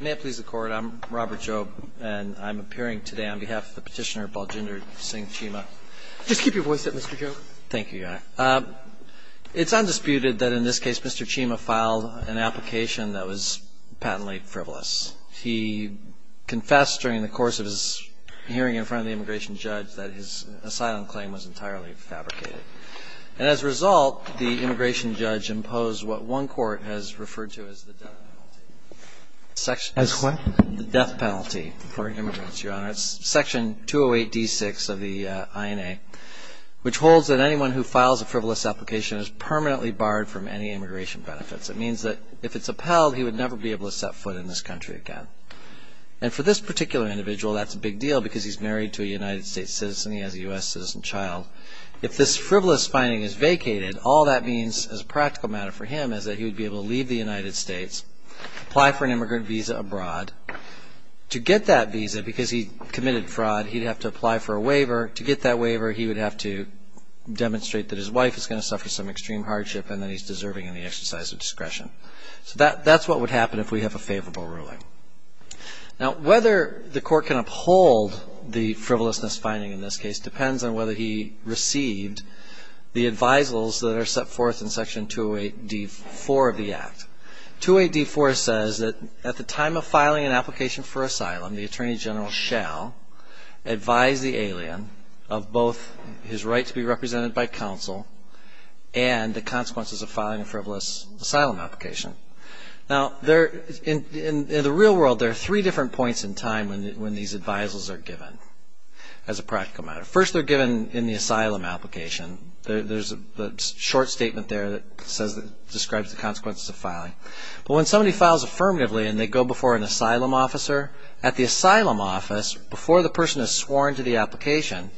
May it please the Court, I'm Robert Jobe and I'm appearing today on behalf of the petitioner Baljinder Singh Cheema. Just keep your voice up, Mr. Jobe. Thank you, Your Honor. It's undisputed that in this case Mr. Cheema filed an application that was patently frivolous. He confessed during the course of his hearing in front of the immigration judge that his asylum claim was entirely fabricated. And as a result, the immigration judge imposed what one court has referred to as the death penalty. As what? The death penalty for immigrants, Your Honor. It's section 208d6 of the INA, which holds that anyone who files a frivolous application is permanently barred from any immigration benefits. It means that if it's upheld, he would never be able to set foot in this country again. And for this particular individual, that's a big deal because he's married to a United States citizen. He has a U.S. citizen child. If this frivolous finding is vacated, all that means as a practical matter for him is that he would be able to leave the United States, apply for an immigrant visa abroad. To get that visa, because he committed fraud, he'd have to apply for a waiver. To get that waiver, he would have to demonstrate that his wife is going to suffer some extreme hardship and that he's deserving of the exercise of discretion. So that's what would happen if we have a favorable ruling. Now, whether the court can uphold the frivolousness finding in this case depends on whether he received the advisals that are set forth in section 208d4 of the Act. 208d4 says that at the time of filing an application for asylum, the Attorney General shall advise the alien of both his right to be represented by counsel and the consequences of filing a frivolous asylum application. Now, in the real world, there are three different points in time when these advisals are given as a practical matter. First, they're given in the asylum application. There's a short statement there that describes the consequences of filing. But when somebody files affirmatively and they go before an asylum officer, at the asylum office, before the person is sworn to the application,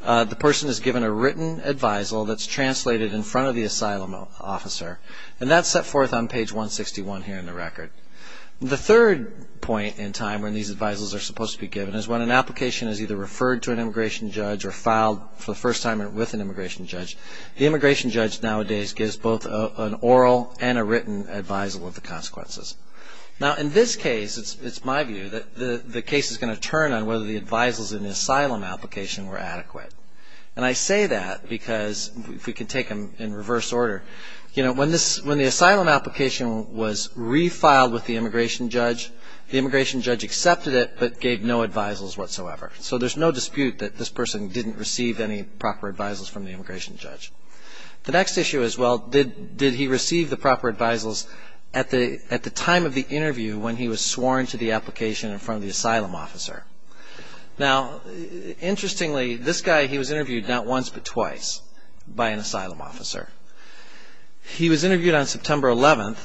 the person is given a written advisal that's translated in front of the asylum officer. And that's set forth on page 161 here in the record. The third point in time when these advisals are supposed to be given is when an application is either referred to an immigration judge or filed for the first time with an immigration judge, the immigration judge nowadays gives both an oral and a written advisal of the consequences. Now, in this case, it's my view that the case is going to turn on whether the advisals in the asylum application were adequate. And I say that because, if we could take them in reverse order, when the asylum application was refiled with the immigration judge, the immigration judge accepted it but gave no advisals whatsoever. So there's no dispute that this person didn't receive any proper advisals from the immigration judge. The next issue is, well, did he receive the proper advisals at the time of the interview when he was sworn to the application in front of the asylum officer? Now, interestingly, this guy, he was interviewed not once but twice by an asylum officer. He was interviewed on September 11th.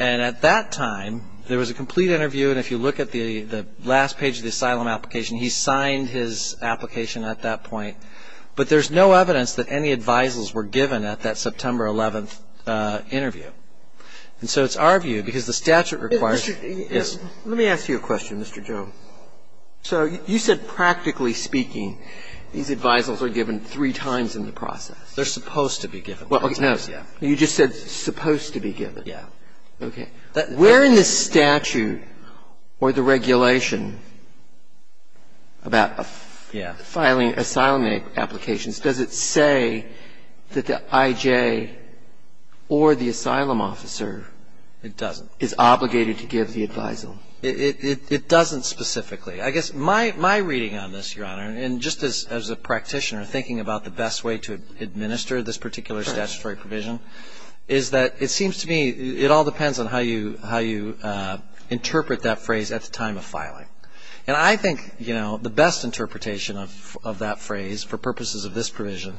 And at that time, there was a complete interview. And if you look at the last page of the asylum application, he signed his application at that point. But there's no evidence that any advisals were given at that September 11th interview. And so it's our view, because the statute requires... Let me ask you a question, Mr. Jones. So you said, practically speaking, these advisals are given three times in the process. They're supposed to be given. Well, no. You just said supposed to be given. Yeah. Okay. Where in the statute or the regulation about filing asylum applications, does it say that the I.J. or the asylum officer... It doesn't. ...is obligated to give the advisal? It doesn't specifically. I guess my reading on this, Your Honor, and just as a practitioner thinking about the best way to administer this particular statutory provision, is that it seems to me it all depends on how you interpret that phrase, at the time of filing. And I think the best interpretation of that phrase for purposes of this provision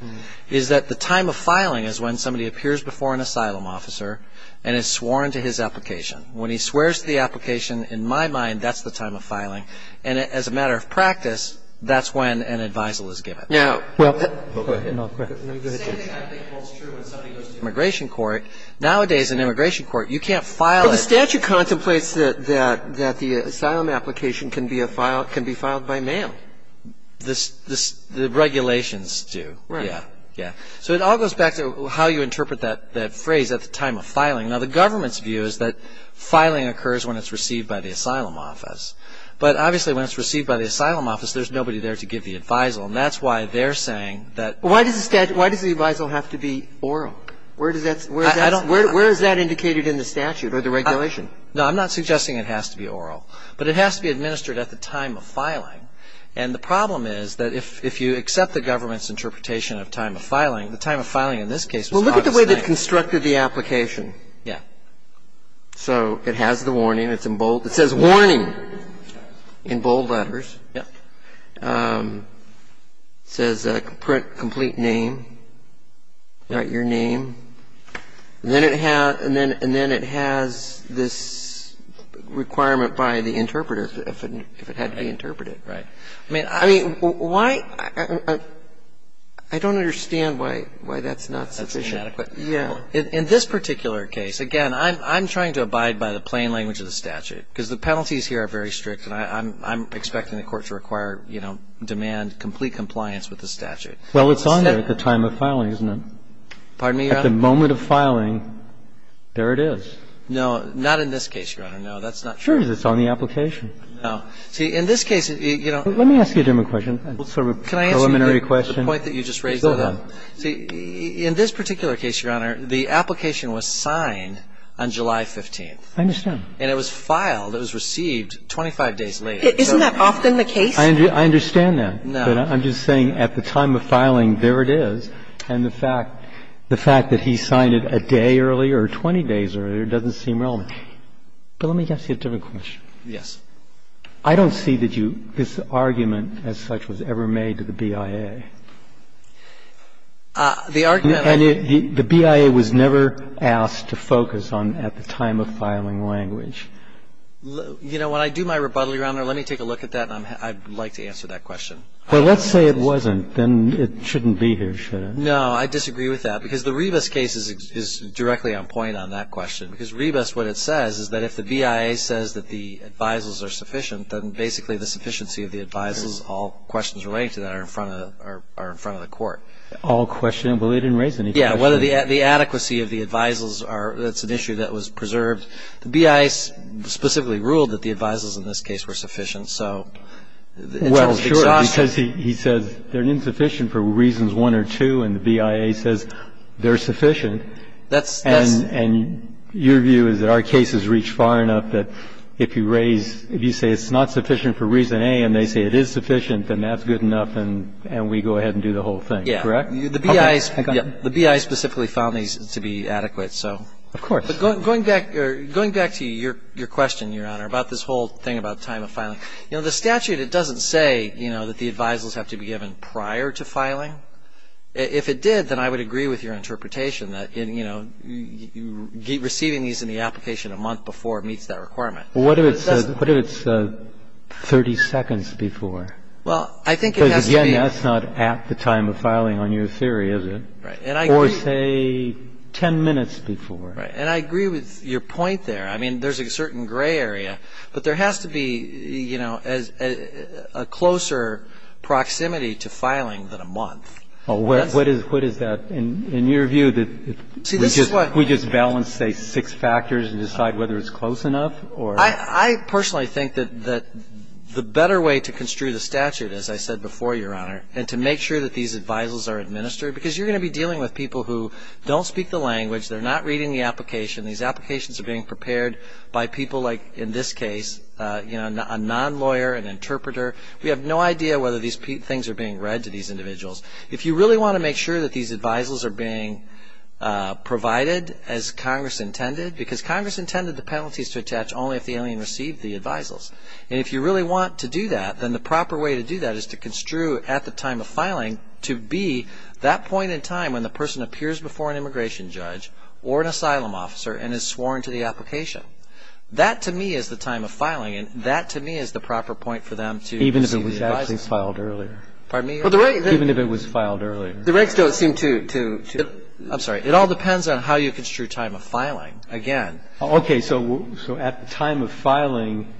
is that the time of filing is when somebody appears before an asylum officer and is sworn to his application. When he swears to the application, in my mind, that's the time of filing. And as a matter of practice, that's when an advisal is given. Now... Go ahead. Go ahead, Judge. The same thing I think holds true when somebody goes to immigration court. Nowadays in immigration court, you can't file... But the statute contemplates that the asylum application can be filed by mail. The regulations do. Right. Yeah. So it all goes back to how you interpret that phrase, at the time of filing. Now, the government's view is that filing occurs when it's received by the asylum office. But obviously when it's received by the asylum office, there's nobody there to give the advisal. And that's why they're saying that... Why does the advisal have to be oral? Where does that... I don't... Where is that indicated in the statute or the regulation? No, I'm not suggesting it has to be oral. But it has to be administered at the time of filing. And the problem is that if you accept the government's interpretation of time of filing, the time of filing in this case was August 9th. Well, look at the way they constructed the application. Yeah. So it has the warning. It's in bold. It says warning in bold letters. Yeah. It says print complete name. Write your name. And then it has this requirement by the interpreter if it had to be interpreted. Right. I mean, why... I don't understand why that's not sufficient. That's inadequate. Yeah. In this particular case, again, I'm trying to abide by the plain language of the statute because the penalties here are very strict and I'm expecting the Court to require, you know, demand complete compliance with the statute. Well, it's on there at the time of filing, isn't it? Pardon me, Your Honor? At the moment of filing, there it is. No, not in this case, Your Honor. No, that's not true. Sure it is. It's on the application. No. See, in this case, you know... Let me ask you a different question, sort of an elementary question. Can I answer the point that you just raised? Go ahead. See, in this particular case, Your Honor, the application was signed on July 15th. I understand. And it was filed. It was received 25 days later. Isn't that often the case? I understand that. No. But I'm just saying at the time of filing, there it is. And the fact that he signed it a day earlier or 20 days earlier doesn't seem relevant. But let me ask you a different question. Yes. I don't see that you – this argument as such was ever made to the BIA. The argument... And the BIA was never asked to focus on at the time of filing language. You know, when I do my rebuttal, Your Honor, let me take a look at that, and I'd like to answer that question. Well, let's say it wasn't. Then it shouldn't be here, should it? No, I disagree with that, because the Rebus case is directly on point on that question. Because Rebus, what it says is that if the BIA says that the advisals are sufficient, then basically the sufficiency of the advisals, all questions relating to that are in front of the court. All questions? Well, they didn't raise any questions. Yes. Whether the adequacy of the advisals are – that's an issue that was preserved. The BIA specifically ruled that the advisals in this case were sufficient, so in terms of exhaustion... Well, sure. Because he says they're insufficient for reasons one or two, and the BIA says they're sufficient. That's... And your view is that our cases reach far enough that if you raise – if you say it's not sufficient for reason A, and they say it is sufficient, then that's good enough, and we go ahead and do the whole thing, correct? Yes. The BIA specifically found these to be adequate, so... Of course. But going back to your question, Your Honor, about this whole thing about time of filing, you know, the statute, it doesn't say, you know, that the advisals have to be given prior to filing. If it did, then I would agree with your interpretation that, you know, receiving these in the application a month before meets that requirement. What if it's 30 seconds before? Well, I think it has to be... Because, again, that's not at the time of filing on your theory, is it? Right. Or, say, 10 minutes before. Right. And I agree with your point there. I mean, there's a certain gray area, but there has to be, you know, a closer proximity to filing than a month. What is that? In your view, we just balance, say, six factors and decide whether it's close enough or... I personally think that the better way to construe the statute, as I said before, Your Honor, and to make sure that these advisals are administered, because you're going to be dealing with people who don't speak the language, they're not reading the application, these applications are being prepared by people like, in this case, you know, a non-lawyer, an interpreter. We have no idea whether these things are being read to these individuals. If you really want to make sure that these advisals are being provided as Congress intended, because Congress intended the penalties to attach only if the alien received the advisals. And if you really want to do that, then the proper way to do that is to construe at the time of filing to be that point in time when the person appears before an immigration judge or an asylum officer and is sworn to the application. That, to me, is the time of filing, and that, to me, is the proper point for them to... Even if it was actually filed earlier. Pardon me? Even if it was filed earlier. The regs don't seem to... I'm sorry. It all depends on how you construe time of filing, again. Okay, so at the time of filing,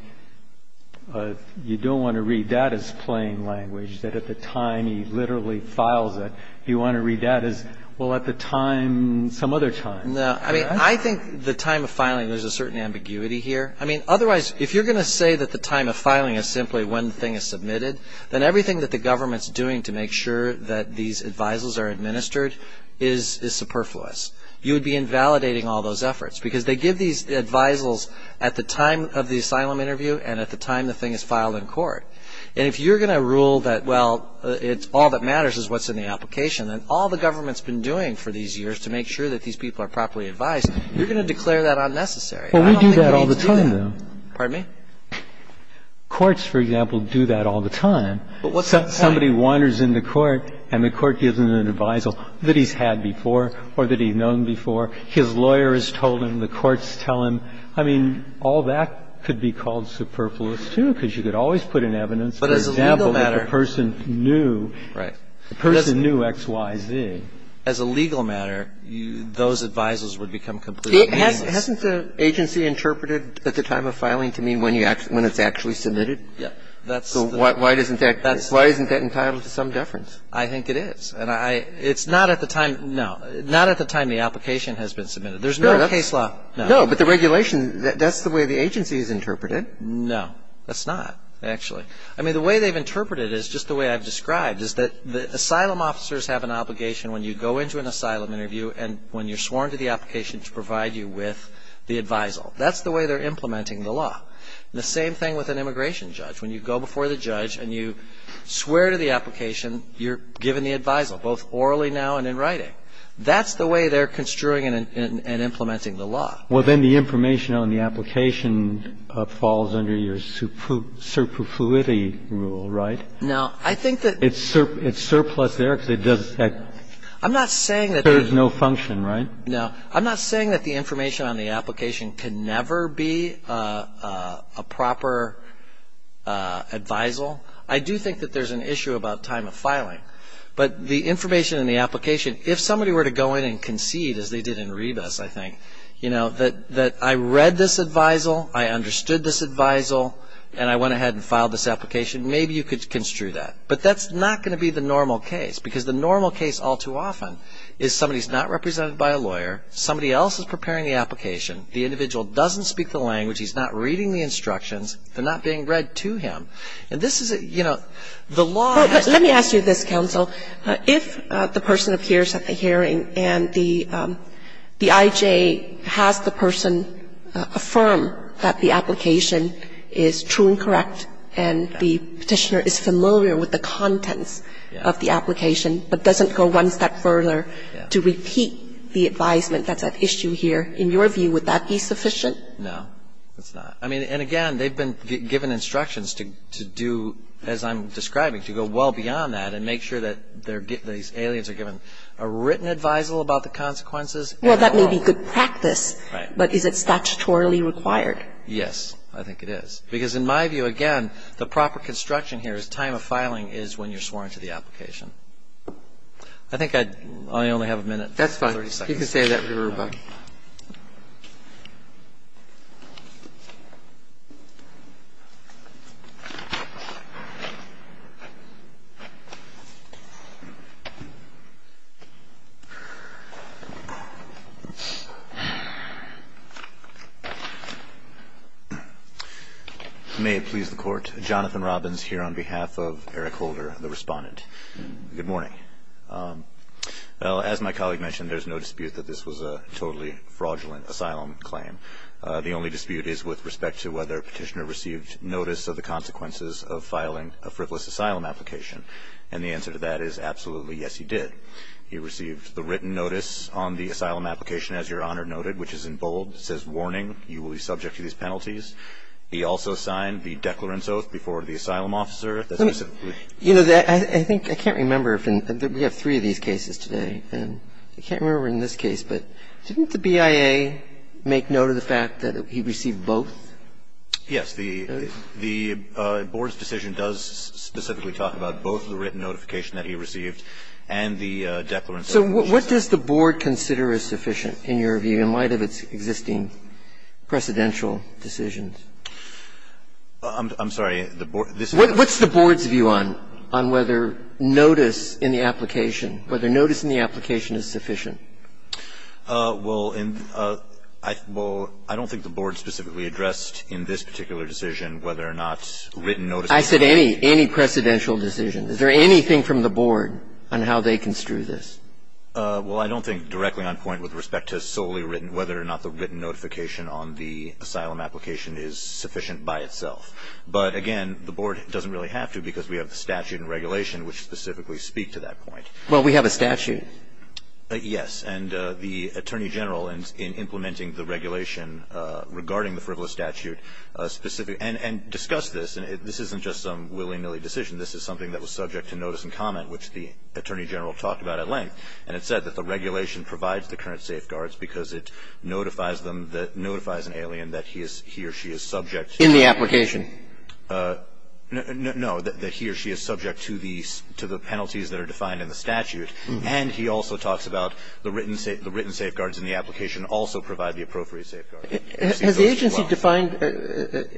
you don't want to read that as plain language, that at the time he literally files it, you want to read that as, well, at the time, some other time. No, I mean, I think the time of filing, there's a certain ambiguity here. I mean, otherwise, if you're going to say that the time of filing is simply when the thing is submitted, then everything that the government's doing to make sure that these advisals are administered is superfluous. You would be invalidating all those efforts, because they give these advisals at the time of the asylum interview and at the time the thing is filed in court. And if you're going to rule that, well, all that matters is what's in the application, and all the government's been doing for these years to make sure that these people are properly advised, you're going to declare that unnecessary. I don't think it needs to be that. Well, we do that all the time, though. Pardon me? Courts, for example, do that all the time. But what's the point? Somebody wanders in the court, and the court gives them an advisal that he's had before or that he's known before. His lawyer has told him. The courts tell him. I mean, all that could be called superfluous, too, because you could always put in evidence, for example... But as a legal matter... As a legal matter, those advisals would become completely meaningless. Hasn't the agency interpreted at the time of filing to mean when it's actually submitted? Yeah. So why isn't that entitled to some deference? I think it is. And it's not at the time the application has been submitted. There's no case law. No, but the regulation, that's the way the agency has interpreted it. No, that's not, actually. I mean, the way they've interpreted it is just the way I've described, is that asylum officers have an obligation when you go into an asylum interview and when you're sworn to the application to provide you with the advisal. That's the way they're implementing the law. The same thing with an immigration judge. When you go before the judge and you swear to the application, you're given the advisal, both orally now and in writing. That's the way they're construing and implementing the law. Well, then the information on the application falls under your superfluity rule, right? Now, I think that It's surplus there because it does I'm not saying that There's no function, right? No. I'm not saying that the information on the application can never be a proper advisal. I do think that there's an issue about time of filing. But the information in the application, if somebody were to go in and concede, as they did in Rebus, I think, you know, that I read this advisal, I understood this advisal, and I went ahead and filed this application, maybe you could construe that. But that's not going to be the normal case, because the normal case all too often is somebody's not represented by a lawyer, somebody else is preparing the application, the individual doesn't speak the language, he's not reading the instructions, they're not being read to him. And this is a, you know, the law Let me ask you this, counsel. If the person appears at the hearing and the I.J. has the person affirm that the application is true and correct and the petitioner is familiar with the contents of the application but doesn't go one step further to repeat the advisement that's at issue here, in your view, would that be sufficient? No, it's not. I mean, and again, they've been given instructions to do, as I'm describing, to go well beyond that and make sure that these aliens are given a written advisal about the consequences. Well, that may be good practice. Right. But is it statutorily required? Yes, I think it is. Because in my view, again, the proper construction here is time of filing is when you're sworn into the application. I think I only have a minute, 30 seconds. That's fine. You can say that. Thank you, Mr. Ruback. May it please the Court. Jonathan Robbins here on behalf of Eric Holder, the respondent. Good morning. Well, as my colleague mentioned, there's no dispute that this was a totally fraudulent asylum claim. The only dispute is with respect to whether a petitioner received notice of the consequences of filing a frivolous asylum application. And the answer to that is absolutely, yes, he did. He received the written notice on the asylum application, as Your Honor noted, which is in bold. It says, warning, you will be subject to these penalties. He also signed the declarence oath before the asylum officer. You know, I think I can't remember if we have three of these cases today. I can't remember in this case. But didn't the BIA make note of the fact that he received both? Yes. The Board's decision does specifically talk about both the written notification that he received and the declarence oath. So what does the Board consider is sufficient in your view in light of its existing precedential decisions? I'm sorry. What's the Board's view on whether notice in the application, whether notice in the application is sufficient? Well, I don't think the Board specifically addressed in this particular decision whether or not written notice was sufficient. I said any, any precedential decision. Is there anything from the Board on how they construe this? Well, I don't think directly on point with respect to solely written, whether or not the written notification on the asylum application is sufficient by itself. But, again, the Board doesn't really have to because we have the statute and regulation which specifically speak to that point. Well, we have a statute. Yes. And the Attorney General in implementing the regulation regarding the frivolous statute specifically, and discussed this, and this isn't just some willy-nilly decision. This is something that was subject to notice and comment, which the Attorney General talked about at length. And it said that the regulation provides the current safeguards because it notifies them, notifies an alien that he or she is subject. In the application. No. That he or she is subject to the penalties that are defined in the statute. And he also talks about the written safeguards in the application also provide the appropriate safeguards. Has the agency defined,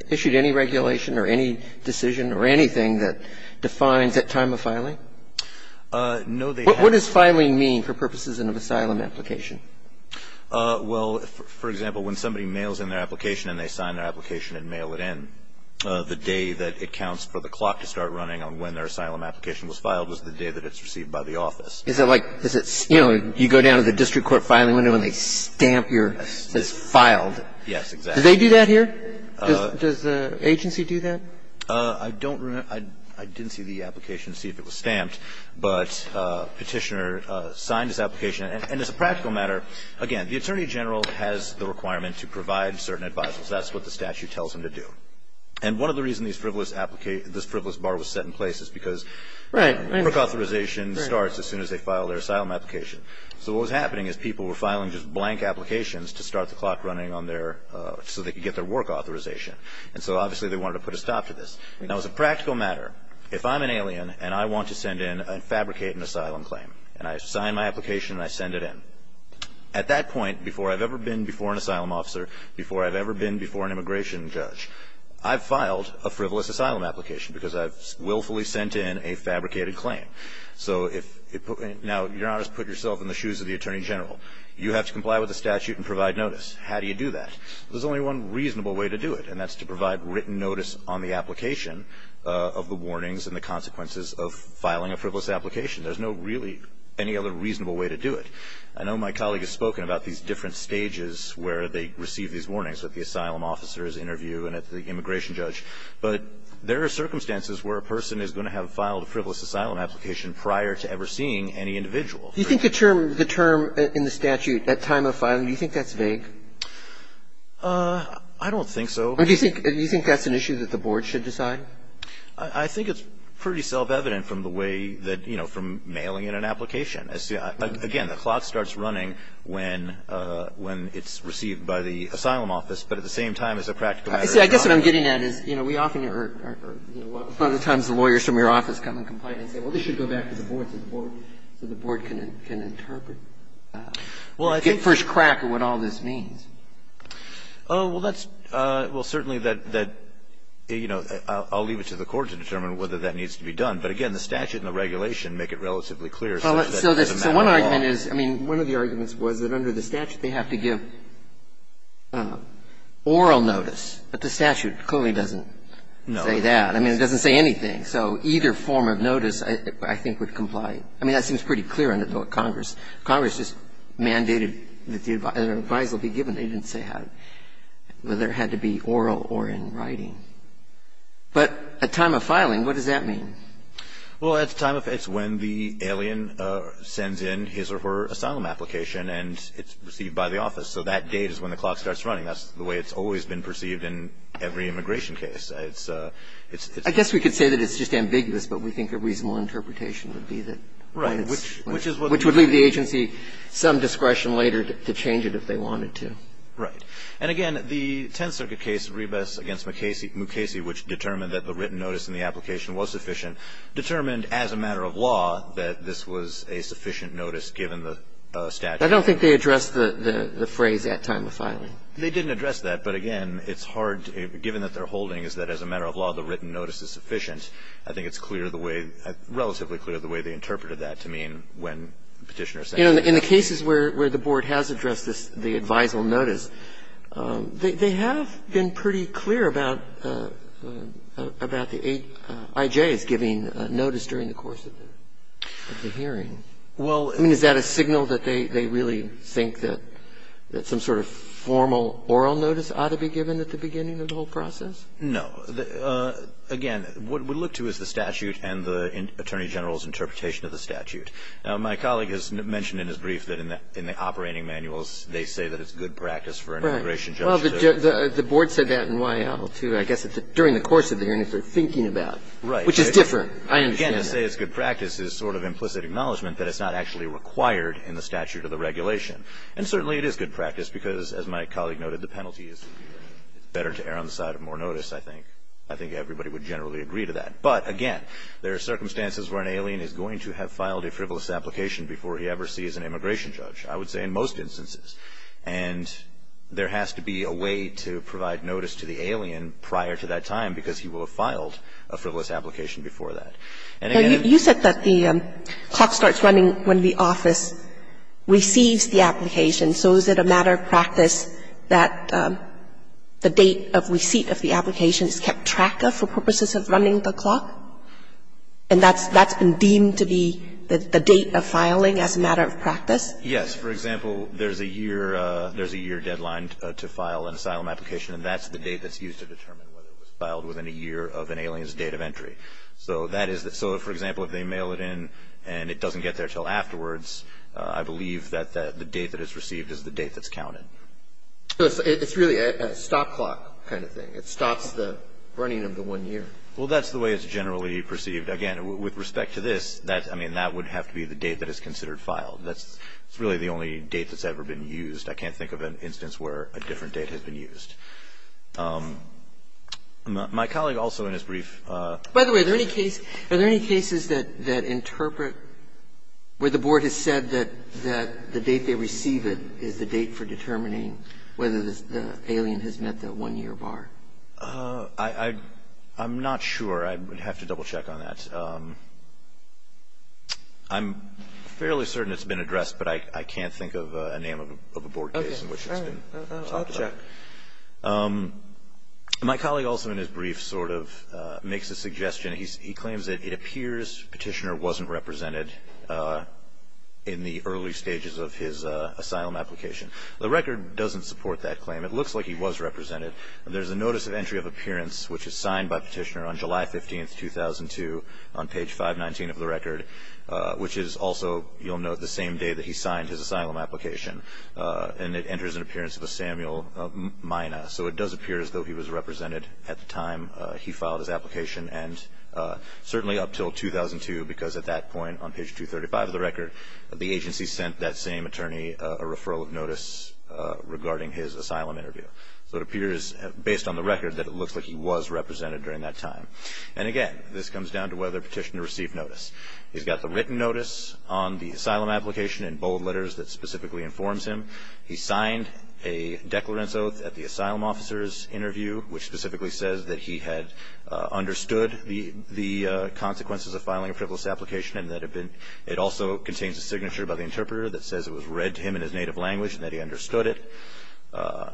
issued any regulation or any decision or anything that defines at time of filing? No, they haven't. What does filing mean for purposes of an asylum application? Well, for example, when somebody mails in their application and they sign their application and they file it in, the day that it counts for the clock to start running on when their asylum application was filed is the day that it's received by the office. Is it like, you know, you go down to the district court filing window and they stamp your, it says filed. Yes, exactly. Do they do that here? Does the agency do that? I don't remember. I didn't see the application to see if it was stamped. But Petitioner signed his application. And as a practical matter, again, the Attorney General has the requirement to provide certain advisers. That's what the statute tells them to do. And one of the reasons this frivolous bar was set in place is because work authorization starts as soon as they file their asylum application. So what was happening is people were filing just blank applications to start the clock running on their, so they could get their work authorization. And so obviously they wanted to put a stop to this. Now, as a practical matter, if I'm an alien and I want to send in and fabricate an asylum claim, and I sign my application and I send it in, at that point, before I've ever been before an asylum officer, before I've ever been before an immigration judge, I've filed a frivolous asylum application because I've willfully sent in a fabricated claim. So now you're not just putting yourself in the shoes of the Attorney General. You have to comply with the statute and provide notice. How do you do that? There's only one reasonable way to do it, and that's to provide written notice on the application of the warnings and the consequences of filing a frivolous application. There's no really any other reasonable way to do it. I know my colleague has spoken about these different stages where they receive these warnings, with the asylum officer's interview and at the immigration judge. But there are circumstances where a person is going to have filed a frivolous asylum application prior to ever seeing any individual. Do you think the term in the statute, at time of filing, do you think that's vague? I don't think so. Do you think that's an issue that the Board should decide? I think it's pretty self-evident from the way that, you know, from mailing in an application. Again, the clock starts running when it's received by the asylum office, but at the same time as a practical matter. See, I guess what I'm getting at is, you know, we often are, you know, a lot of the times the lawyers from your office come and comply and say, well, this should go back to the Board, so the Board can interpret. Well, I think the first crack at what all this means. Oh, well, that's, well, certainly that, you know, I'll leave it to the Court to determine whether that needs to be done. But, again, the statute and the regulation make it relatively clear. Well, so one argument is, I mean, one of the arguments was that under the statute they have to give oral notice. But the statute clearly doesn't say that. I mean, it doesn't say anything. So either form of notice, I think, would comply. I mean, that seems pretty clear under Congress. Congress just mandated that the advice will be given. They didn't say whether it had to be oral or in writing. But at time of filing, what does that mean? Well, at time of, it's when the alien sends in his or her asylum application and it's received by the office. So that date is when the clock starts running. That's the way it's always been perceived in every immigration case. It's a, it's a. I guess we could say that it's just ambiguous, but we think a reasonable interpretation would be that. Right. Which is what. Which would leave the agency some discretion later to change it if they wanted to. Right. And, again, the Tenth Circuit case, Ribas v. Mukasey, which determined that the written notice in the application was sufficient, determined as a matter of law that this was a sufficient notice given the statute. I don't think they addressed the phrase at time of filing. They didn't address that. But, again, it's hard, given that their holding is that as a matter of law, the written notice is sufficient. I think it's clear the way, relatively clear the way they interpreted that to mean when Petitioner said. In the cases where the Board has addressed this, the advisal notice, they have been pretty clear about the eight I.J.'s giving notice during the course of the hearing. Well. I mean, is that a signal that they really think that some sort of formal oral notice ought to be given at the beginning of the whole process? No. Again, what we look to is the statute and the Attorney General's interpretation of the statute. Now, my colleague has mentioned in his brief that in the operating manuals they say that it's good practice for an immigration judge to. The Board said that in Y.L., too, I guess, during the course of the hearing, if they're thinking about. Right. Which is different. I understand that. Again, to say it's good practice is sort of implicit acknowledgment that it's not actually required in the statute or the regulation. And certainly it is good practice, because, as my colleague noted, the penalty is better to err on the side of more notice, I think. I think everybody would generally agree to that. But, again, there are circumstances where an alien is going to have filed a frivolous application before he ever sees an immigration judge, I would say in most instances. And there has to be a way to provide notice to the alien prior to that time, because he will have filed a frivolous application before that. And, again. You said that the clock starts running when the office receives the application. So is it a matter of practice that the date of receipt of the application is kept track of for purposes of running the clock? And that's been deemed to be the date of filing as a matter of practice? Yes. Yes. For example, there's a year deadline to file an asylum application, and that's the date that's used to determine whether it was filed within a year of an alien's date of entry. So that is the – so, for example, if they mail it in and it doesn't get there until afterwards, I believe that the date that it's received is the date that's counted. So it's really a stop clock kind of thing. It stops the running of the one year. Well, that's the way it's generally perceived. Again, with respect to this, I mean, that would have to be the date that is considered to have been filed. That's really the only date that's ever been used. I can't think of an instance where a different date has been used. My colleague also in his brief – By the way, are there any cases that interpret where the Board has said that the date they receive it is the date for determining whether the alien has met the one-year bar? I'm not sure. I would have to double-check on that. I'm fairly certain it's been addressed, but I can't think of a name of a Board case in which it's been talked about. Okay. I'll check. My colleague also in his brief sort of makes a suggestion. He claims that it appears Petitioner wasn't represented in the early stages of his asylum application. The record doesn't support that claim. It looks like he was represented. There's a notice of entry of appearance, which is signed by Petitioner on July 15th, 2002, on page 519 of the record, which is also, you'll note, the same day that he signed his asylum application. And it enters an appearance of a Samuel Mina. So it does appear as though he was represented at the time he filed his application, and certainly up until 2002, because at that point, on page 235 of the record, the agency sent that same attorney a referral of notice regarding his asylum interview. So it appears, based on the record, that it looks like he was represented during that time. And, again, this comes down to whether Petitioner received notice. He's got the written notice on the asylum application in bold letters that specifically informs him. He signed a declarant's oath at the asylum officer's interview, which specifically says that he had understood the consequences of filing a frivolous application and that it also contains a signature by the interpreter that says it was read to him in his native language and that he understood it.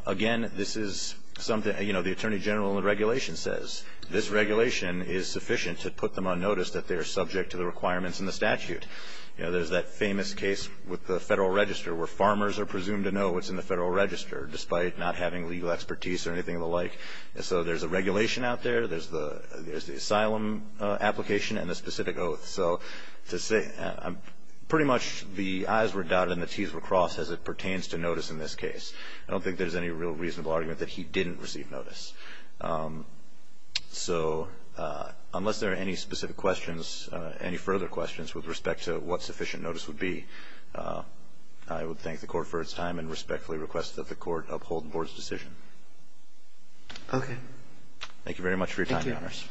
Again, this is something, you know, the attorney general in the regulation says, this regulation is sufficient to put them on notice that they are subject to the requirements in the statute. You know, there's that famous case with the Federal Register, where farmers are presumed to know what's in the Federal Register, despite not having legal expertise or anything of the like. And so there's a regulation out there. There's the asylum application and the specific oath. So to say pretty much the I's were dotted and the T's were crossed as it pertains to notice in this case. I don't think there's any real reasonable argument that he didn't receive notice. So unless there are any specific questions, any further questions with respect to what sufficient notice would be, I would thank the Court for its time and respectfully request that the Court uphold the Board's decision. Thank you very much for your time, Your Honors.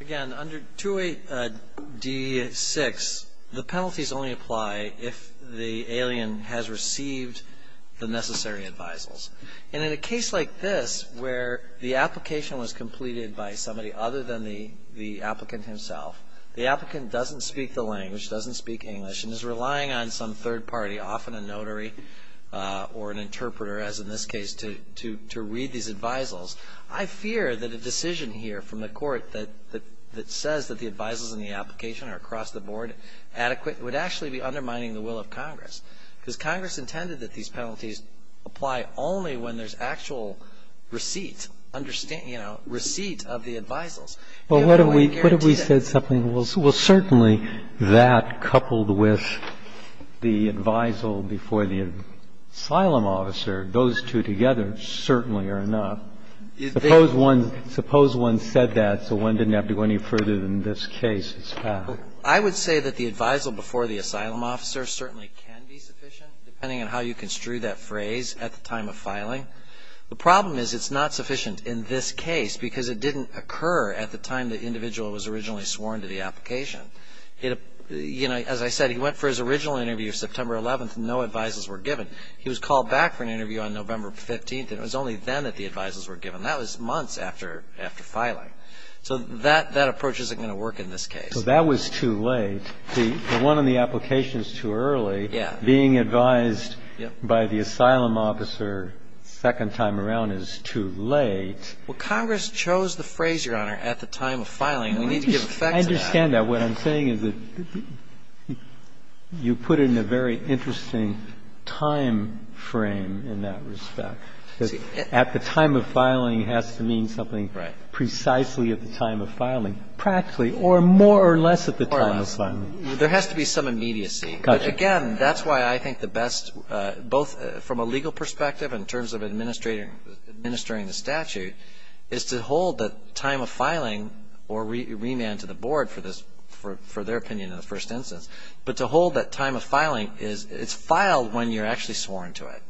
Again, under 2AD6, the penalties only apply if the alien has received the necessary advisals. And in a case like this, where the application was completed by somebody other than the applicant himself, the applicant doesn't speak the language, doesn't speak English, and is relying on some third party, often a notary, or a lawyer, or an interpreter, as in this case, to read these advisals, I fear that a decision here from the Court that says that the advisals in the application are across the Board adequate would actually be undermining the will of Congress. Because Congress intended that these penalties apply only when there's actual receipt, you know, receipt of the advisals. You know, I guarantee that. Breyer, what if we said something, well, certainly that, coupled with the advisal before the asylum officer, those two together certainly are enough. Suppose one said that, so one didn't have to go any further than this case. I would say that the advisal before the asylum officer certainly can be sufficient, depending on how you construe that phrase, at the time of filing. The problem is it's not sufficient in this case, because it didn't occur at the time the individual was originally sworn to the application. You know, as I said, he went for his original interview September 11th, and no advisals were given. He was called back for an interview on November 15th, and it was only then that the advisals were given. That was months after filing. So that approach isn't going to work in this case. So that was too late. The one on the application is too early. Being advised by the asylum officer a second time around is too late. Well, Congress chose the phrase, Your Honor, at the time of filing. We need to give effect to that. I understand that. What I'm saying is that you put it in a very interesting time frame in that respect. At the time of filing has to mean something precisely at the time of filing, practically, or more or less at the time of filing. There has to be some immediacy. Again, that's why I think the best, both from a legal perspective and in terms of administering the statute, is to hold the time of filing, or remand to the board for their opinion in the first instance, but to hold that time of filing. It's filed when you're actually sworn to it.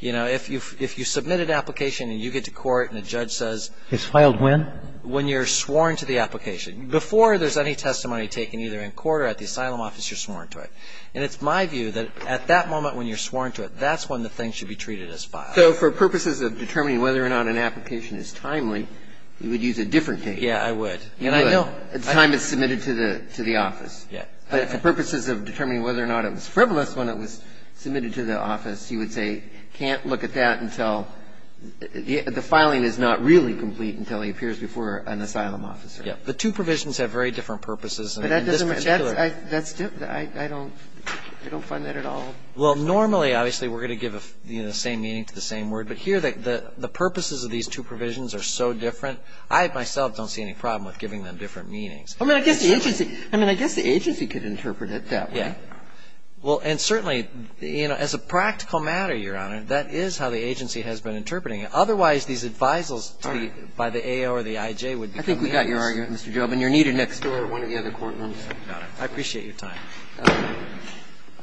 You know, if you submit an application and you get to court and the judge says... It's filed when? When you're sworn to the application. Before there's any testimony taken either in court or at the asylum office, you're sworn to it. And it's my view that at that moment when you're sworn to it, that's when the thing should be treated as filed. So for purposes of determining whether or not an application is timely, you would use a different date. Yes, I would. At the time it's submitted to the office. Yes. For purposes of determining whether or not it was frivolous when it was submitted to the office, you would say can't look at that until the filing is not really complete until he appears before an asylum officer. Yes. The two provisions have very different purposes. But that doesn't match. I don't find that at all. Well, normally, obviously, we're going to give the same meaning to the same word. But here the purposes of these two provisions are so different, I myself don't see any problem with giving them different meanings. I mean, I guess the agency could interpret it that way. Yes. Well, and certainly, you know, as a practical matter, Your Honor, that is how the agency has been interpreting it. Otherwise, these advisals by the AO or the IJ would become meaningless. All right. I think we got your argument, Mr. Jobe. And you're needed next door at one of the other courtrooms. Got it. I appreciate your time.